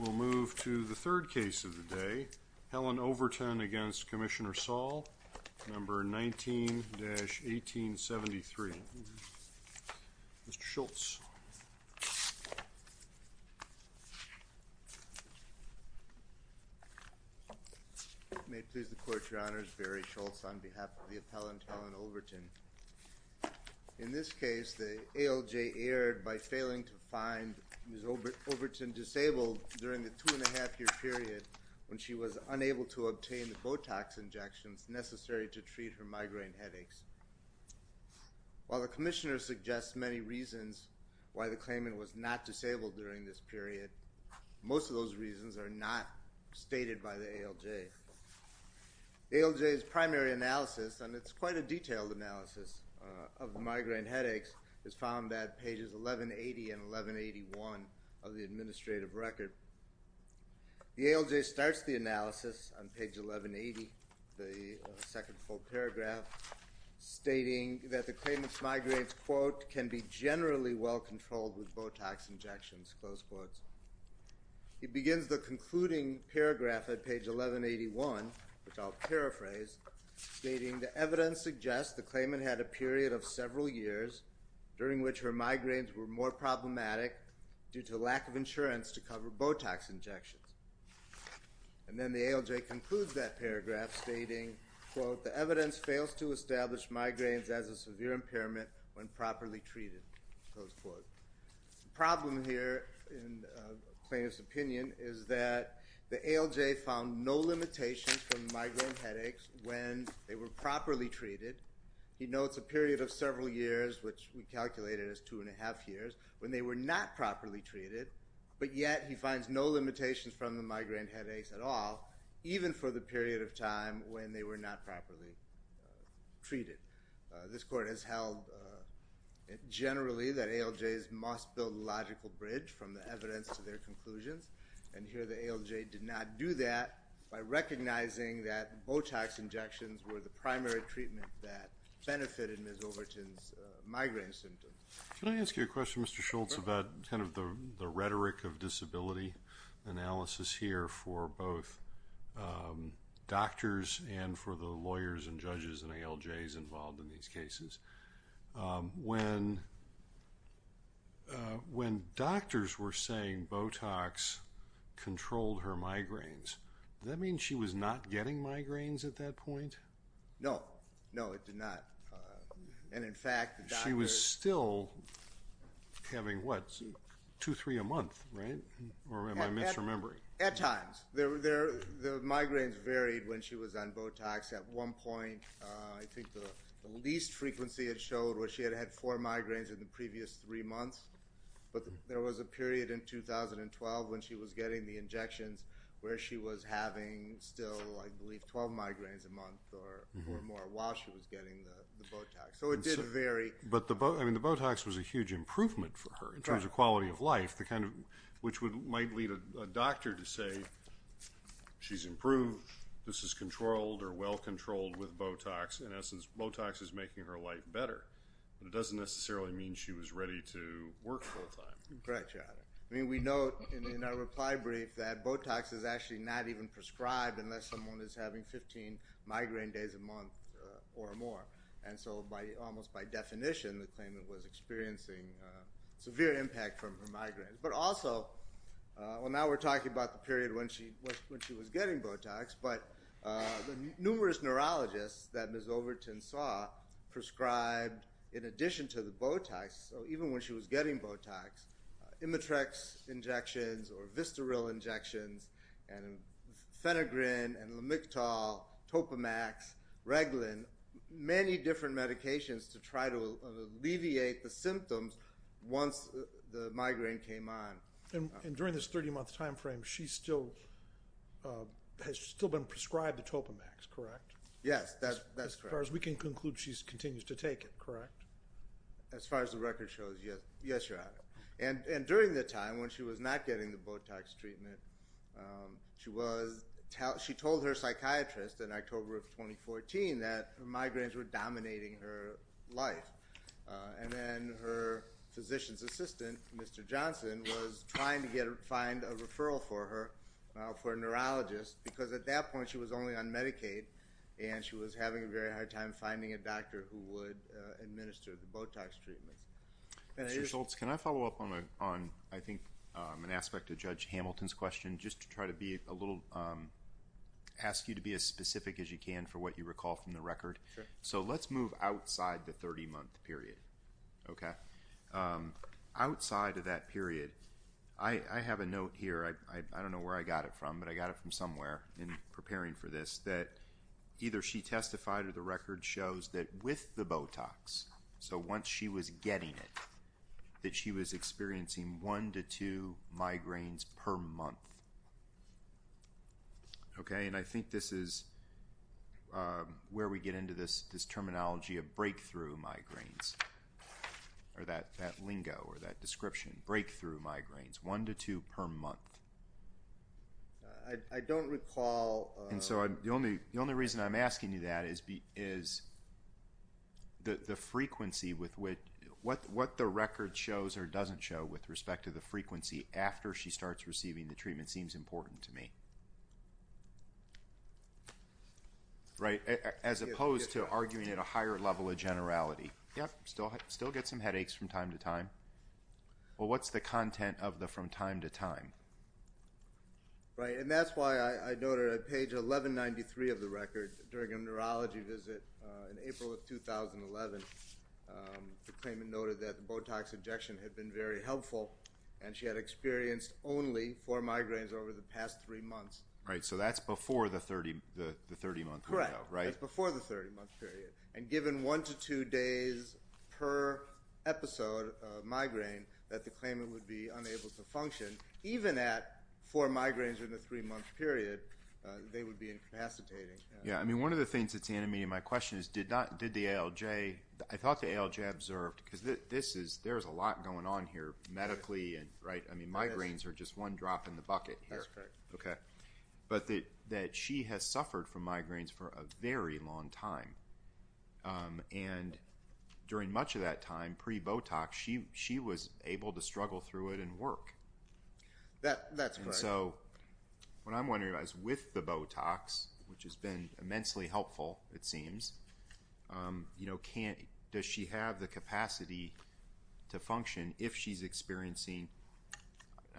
We'll move to the third case of the day. Helen Overton v. Commissioner Saul, number 19-1873. Mr. Schultz. May it please the Court, Your Honors. Barry Schultz on behalf of the appellant, Helen Overton. In this case, the ALJ erred by failing to find Ms. Overton disabled during the two-and-a-half-year period when she was unable to obtain the Botox injections necessary to treat her migraine headaches. While the Commissioner suggests many reasons why the claimant was not disabled during this period, most of those reasons are not stated by the ALJ. The ALJ's primary analysis, and it's quite a detailed analysis of migraine headaches, is found at pages 1180 and 1181 of the administrative record. The ALJ starts the analysis on page 1180, the second full paragraph, stating that the claimant's migraines, quote, which I'll paraphrase, stating, And then the ALJ concludes that paragraph, stating, quote, The problem here, in a plaintiff's opinion, is that the ALJ found no limitations from migraine headaches when they were properly treated. He notes a period of several years, which we calculated as two-and-a-half years, when they were not properly treated, but yet he finds no limitations from the migraine headaches at all, even for the period of time when they were not properly treated. This Court has held generally that ALJs must build a logical bridge from the evidence to their conclusions, and here the ALJ did not do that by recognizing that Botox injections were the primary treatment that benefited Ms. Overton's migraine symptoms. Can I ask you a question, Mr. Schultz, about kind of the rhetoric of disability analysis here for both doctors and for the lawyers and judges and ALJs involved in these cases? When doctors were saying Botox controlled her migraines, does that mean she was not getting migraines at that point? No. No, it did not. And, in fact, the doctors— She was still having, what, two, three a month, right? Or am I misremembering? At times. The migraines varied when she was on Botox. At one point, I think the least frequency it showed was she had had four migraines in the previous three months, but there was a period in 2012 when she was getting the injections where she was having still, I believe, 12 migraines a month or more while she was getting the Botox. So it did vary. But the Botox was a huge improvement for her in terms of quality of life, which might lead a doctor to say she's improved, this is controlled or well controlled with Botox. In essence, Botox is making her life better, but it doesn't necessarily mean she was ready to work full time. Correct, Your Honor. I mean, we note in our reply brief that Botox is actually not even prescribed unless someone is having 15 migraine days a month or more. And so almost by definition, the claimant was experiencing severe impact from her migraines. But also, well, now we're talking about the period when she was getting Botox, but the numerous neurologists that Ms. Overton saw prescribed, in addition to the Botox, even when she was getting Botox, Imatrex injections or Vistaril injections and Phenagrin and Lamictal, Topamax, Reglan, many different medications to try to alleviate the symptoms once the migraine came on. And during this 30-month time frame, she still has been prescribed the Topamax, correct? Yes, that's correct. As far as we can conclude, she continues to take it, correct? As far as the record shows, yes, Your Honor. And during the time when she was not getting the Botox treatment, she told her psychiatrist in October of 2014 that her migraines were dominating her life. And then her physician's assistant, Mr. Johnson, was trying to find a referral for her for a neurologist because at that point she was only on Medicaid and she was having a very hard time finding a doctor who would administer the Botox treatments. Mr. Schultz, can I follow up on, I think, an aspect of Judge Hamilton's question? Just to try to be a little, ask you to be as specific as you can for what you recall from the record. So let's move outside the 30-month period, okay? Outside of that period, I have a note here. I don't know where I got it from, but I got it from somewhere in preparing for this that either she testified or the record shows that with the Botox, so once she was getting it, that she was experiencing one to two migraines per month. Okay, and I think this is where we get into this terminology of breakthrough migraines or that lingo or that description, breakthrough migraines, one to two per month. I don't recall. And so the only reason I'm asking you that is the frequency with which, what the record shows or doesn't show with respect to the frequency after she starts receiving the treatment seems important to me. Right, as opposed to arguing at a higher level of generality. Yep, still get some headaches from time to time. Well, what's the content of the from time to time? Right, and that's why I noted on page 1193 of the record, during a neurology visit in April of 2011, the claimant noted that the Botox injection had been very helpful and she had experienced only four migraines over the past three months. Right, so that's before the 30-month window, right? Correct, that's before the 30-month period. And given one to two days per episode of migraine that the claimant would be unable to function, even at four migraines in the three-month period, they would be incapacitating. Yeah, I mean one of the things that's in me, my question is, did the ALJ, I thought the ALJ observed, because there's a lot going on here, medically and, right, I mean migraines are just one drop in the bucket here. That's correct. Okay, but that she has suffered from migraines for a very long time. And during much of that time, pre-Botox, she was able to struggle through it and work. That's correct. So what I'm wondering about is with the Botox, which has been immensely helpful, it seems, does she have the capacity to function if she's experiencing,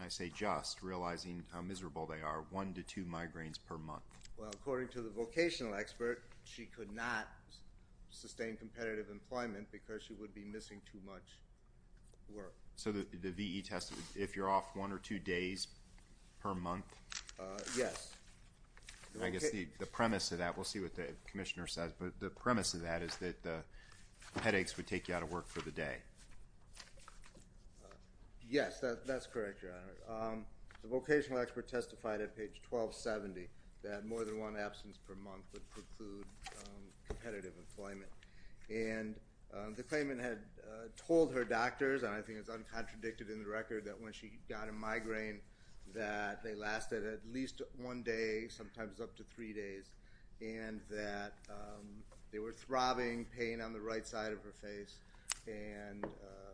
I say just, realizing how miserable they are, one to two migraines per month? Well, according to the vocational expert, she could not sustain competitive employment because she would be missing too much work. So the VE test, if you're off one or two days per month? Yes. I guess the premise of that, we'll see what the commissioner says, but the premise of that is that the headaches would take you out of work for the day. Yes, that's correct, Your Honor. The vocational expert testified at page 1270 that more than one absence per month would preclude competitive employment. And the claimant had told her doctors, and I think it's uncontradicted in the record, that when she got a migraine that they lasted at least one day, sometimes up to three days, and that there was throbbing pain on the right side of her face, and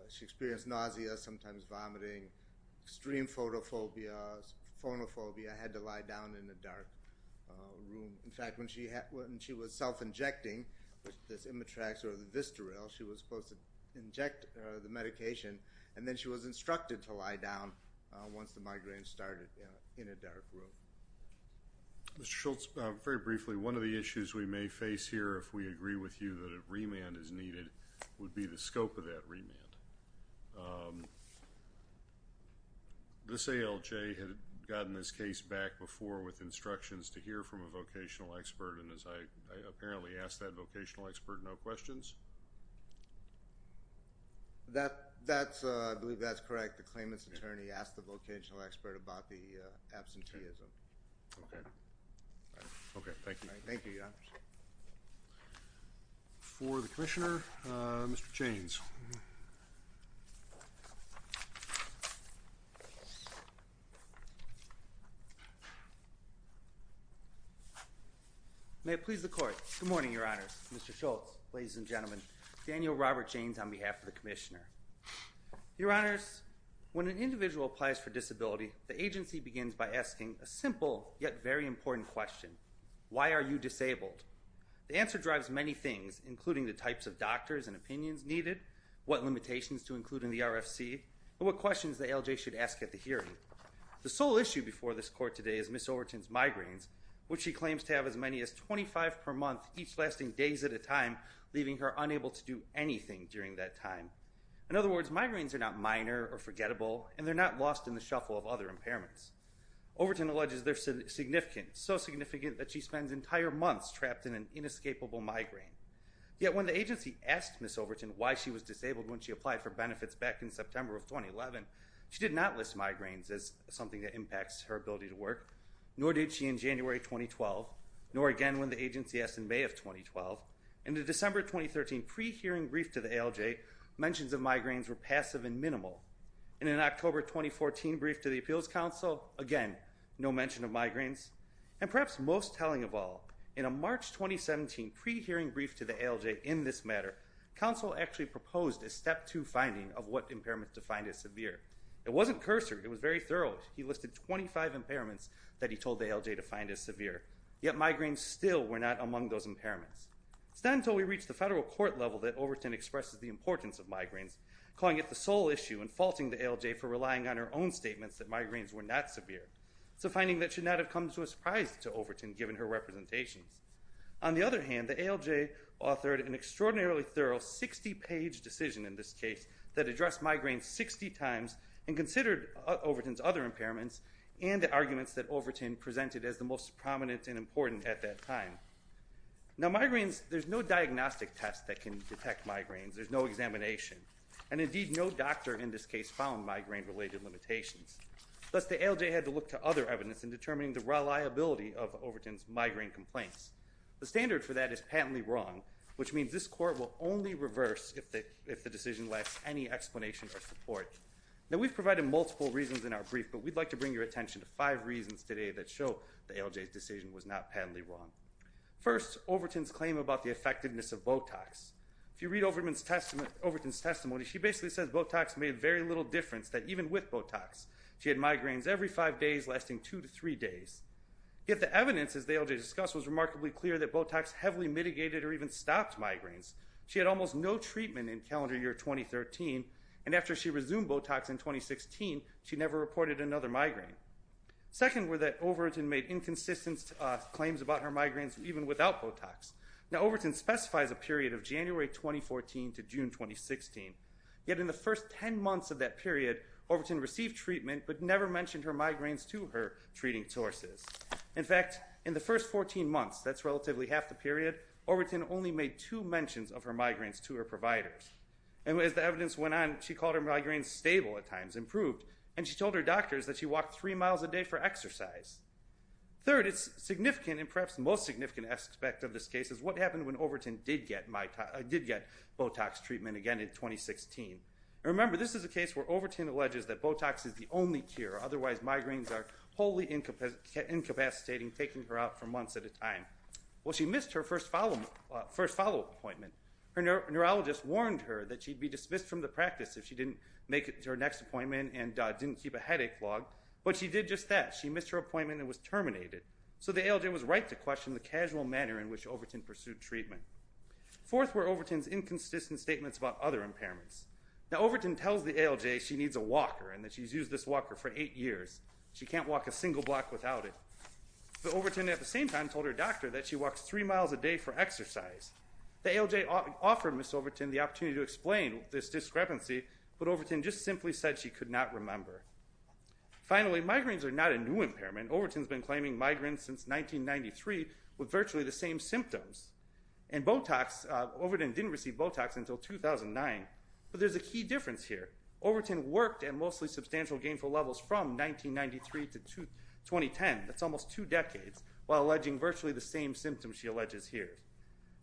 she experienced nausea, sometimes vomiting, extreme photophobia, phonophobia, had to lie down in a dark room. In fact, when she was self-injecting this Imitrax or the Vistaril, she was supposed to inject the medication, and then she was instructed to lie down once the migraine started in a dark room. Mr. Schultz, very briefly, one of the issues we may face here, if we agree with you that a remand is needed, would be the scope of that remand. This ALJ had gotten this case back before with instructions to hear from a vocational expert, and as I apparently asked that vocational expert, no questions? That's, I believe that's correct. The claimant's attorney asked the vocational expert about the absenteeism. Okay. Okay, thank you. Thank you, Your Honor. For the Commissioner, Mr. Chains. Thank you. May it please the Court. Good morning, Your Honors. Mr. Schultz, ladies and gentlemen. Daniel Robert Chains on behalf of the Commissioner. Your Honors, when an individual applies for disability, the agency begins by asking a simple, yet very important question. Why are you disabled? The answer drives many things, including the types of doctors and opinions needed, what limitations to include in the RFC, and what questions the ALJ should ask at the hearing. The sole issue before this Court today is Ms. Overton's migraines, which she claims to have as many as 25 per month, each lasting days at a time, leaving her unable to do anything during that time. In other words, migraines are not minor or forgettable, and they're not lost in the shuffle of other impairments. Overton alleges they're significant, so significant that she spends entire months trapped in an inescapable migraine. Yet when the agency asked Ms. Overton why she was disabled when she applied for benefits back in September of 2011, she did not list migraines as something that impacts her ability to work, nor did she in January 2012, nor again when the agency asked in May of 2012. In the December 2013 pre-hearing brief to the ALJ, mentions of migraines were passive and minimal. In an October 2014 brief to the Appeals Council, again, no mention of migraines. And perhaps most telling of all, in a March 2017 pre-hearing brief to the ALJ in this matter, counsel actually proposed a step two finding of what impairments defined as severe. It wasn't cursor, it was very thorough. He listed 25 impairments that he told the ALJ to find as severe, yet migraines still were not among those impairments. It's not until we reach the federal court level that Overton expresses the importance of migraines, calling it the sole issue and faulting the ALJ for relying on her own statements that migraines were not severe. It's a finding that should not have come to a surprise to Overton given her representations. On the other hand, the ALJ authored an extraordinarily thorough 60-page decision in this case that addressed migraines 60 times and considered Overton's other impairments and the arguments that Overton presented as the most prominent and important at that time. Now migraines, there's no diagnostic test that can detect migraines. There's no examination, and indeed no doctor in this case found migraine-related limitations. Thus the ALJ had to look to other evidence in determining the reliability of Overton's migraine complaints. The standard for that is patently wrong, which means this court will only reverse if the decision lacks any explanation or support. Now we've provided multiple reasons in our brief, but we'd like to bring your attention to five reasons today that show the ALJ's decision was not patently wrong. First, Overton's claim about the effectiveness of Botox. If you read Overton's testimony, she basically says Botox made very little difference, that even with Botox, she had migraines every five days lasting two to three days. Yet the evidence, as the ALJ discussed, was remarkably clear that Botox heavily mitigated or even stopped migraines. She had almost no treatment in calendar year 2013, and after she resumed Botox in 2016, she never reported another migraine. Second were that Overton made inconsistent claims about her migraines even without Botox. Now Overton specifies a period of January 2014 to June 2016. Yet in the first ten months of that period, Overton received treatment but never mentioned her migraines to her treating sources. In fact, in the first 14 months, that's relatively half the period, Overton only made two mentions of her migraines to her providers. And as the evidence went on, she called her migraines stable at times, improved, and she told her doctors that she walked three miles a day for exercise. Third, it's significant, and perhaps the most significant aspect of this case, is what happened when Overton did get Botox treatment again in 2016. Remember, this is a case where Overton alleges that Botox is the only cure, otherwise migraines are wholly incapacitating, taking her out for months at a time. Well, she missed her first follow-up appointment. Her neurologist warned her that she'd be dismissed from the practice if she didn't make it to her next appointment and didn't keep a headache log, but she did just that. She missed her appointment and was terminated. So the ALJ was right to question the casual manner in which Overton pursued treatment. Fourth were Overton's inconsistent statements about other impairments. Now, Overton tells the ALJ she needs a walker and that she's used this walker for eight years. She can't walk a single block without it. But Overton at the same time told her doctor that she walks three miles a day for exercise. The ALJ offered Ms. Overton the opportunity to explain this discrepancy, but Overton just simply said she could not remember. Finally, migraines are not a new impairment. Overton's been claiming migraines since 1993 with virtually the same symptoms. And Botox, Overton didn't receive Botox until 2009. But there's a key difference here. Overton worked at mostly substantial gainful levels from 1993 to 2010. That's almost two decades, while alleging virtually the same symptoms she alleges here.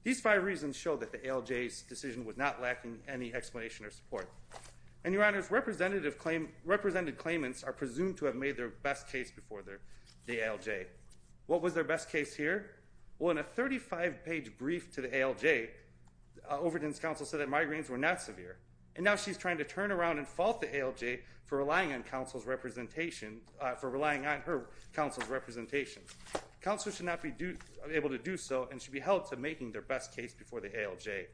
These five reasons show that the ALJ's decision was not lacking any explanation or support. And, Your Honors, represented claimants are presumed to have made their best case before the ALJ. What was their best case here? Well, in a 35-page brief to the ALJ, Overton's counsel said that migraines were not severe. And now she's trying to turn around and fault the ALJ for relying on counsel's representation, for relying on her counsel's representation. Counsel should not be able to do so and should be held to making their best case before the ALJ.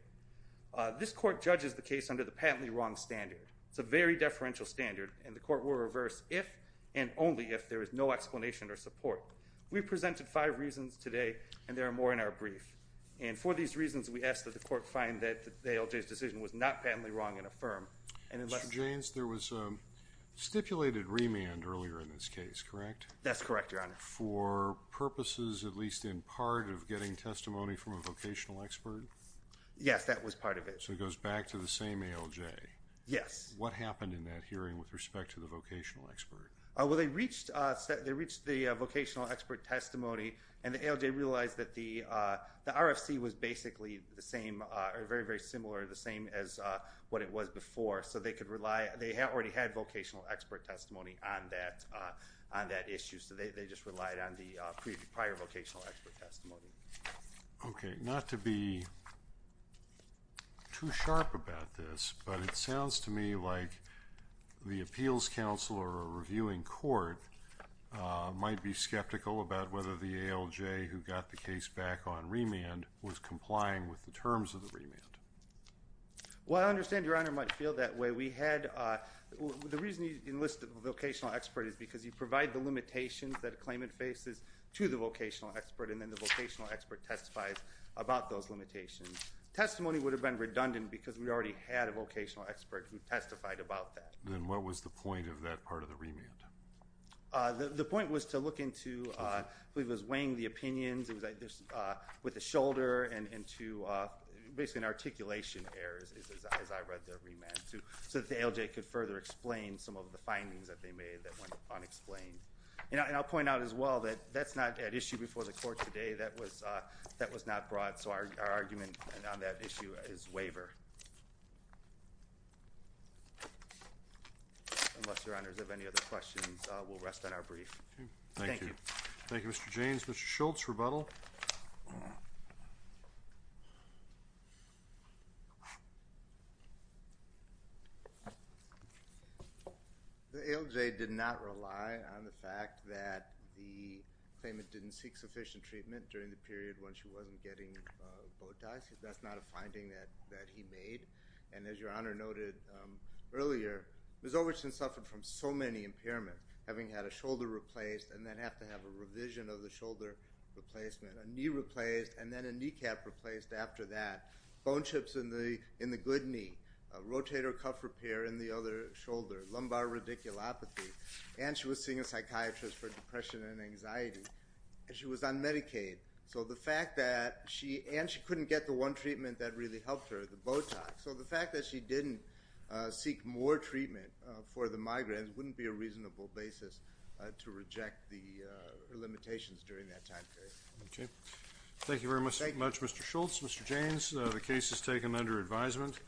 This court judges the case under the patently wrong standard. It's a very deferential standard, and the court will reverse if and only if there is no explanation or support. We've presented five reasons today, and there are more in our brief. And for these reasons, we ask that the court find that the ALJ's decision was not patently wrong and affirm. Mr. Jaynes, there was stipulated remand earlier in this case, correct? That's correct, Your Honor. For purposes, at least in part, of getting testimony from a vocational expert? Yes, that was part of it. So it goes back to the same ALJ. Yes. What happened in that hearing with respect to the vocational expert? Well, they reached the vocational expert testimony, and the ALJ realized that the RFC was basically the same or very, very similar, the same as what it was before. So they could rely. They already had vocational expert testimony on that issue. They just relied on the prior vocational expert testimony. Okay. Not to be too sharp about this, but it sounds to me like the appeals counsel or a reviewing court might be skeptical about whether the ALJ, who got the case back on remand, was complying with the terms of the remand. Well, I understand, Your Honor, it might feel that way. The reason you enlist a vocational expert is because you provide the limitations that a claimant faces to the vocational expert, and then the vocational expert testifies about those limitations. Testimony would have been redundant because we already had a vocational expert who testified about that. Then what was the point of that part of the remand? The point was to look into who was weighing the opinions, with a shoulder and to basically an articulation error, as I read the remand, so that the ALJ could further explain some of the findings that they made that went unexplained. And I'll point out as well that that's not at issue before the court today. That was not brought, so our argument on that issue is waiver. Unless, Your Honors, you have any other questions, we'll rest on our brief. Thank you. Thank you, Mr. Jaynes. Mr. Schultz, rebuttal. The ALJ did not rely on the fact that the claimant didn't seek sufficient treatment during the period when she wasn't getting bow ties. That's not a finding that he made. And as Your Honor noted earlier, Ms. Overton suffered from so many impairments, having had a shoulder replaced and then have to have a revision of the shoulder replacement, a knee replaced and then a kneecap replaced after that, bone chips in the good knee, rotator cuff repair in the other shoulder, lumbar radiculopathy, and she was seeing a psychiatrist for depression and anxiety. She was on Medicaid, and she couldn't get the one treatment that really helped her, the Botox. So the fact that she didn't seek more treatment for the migraines wouldn't be a reasonable basis to reject the limitations during that time period. Okay. Thank you very much, Mr. Schultz. Thank you. Mr. Jaynes, the case is taken under advisement.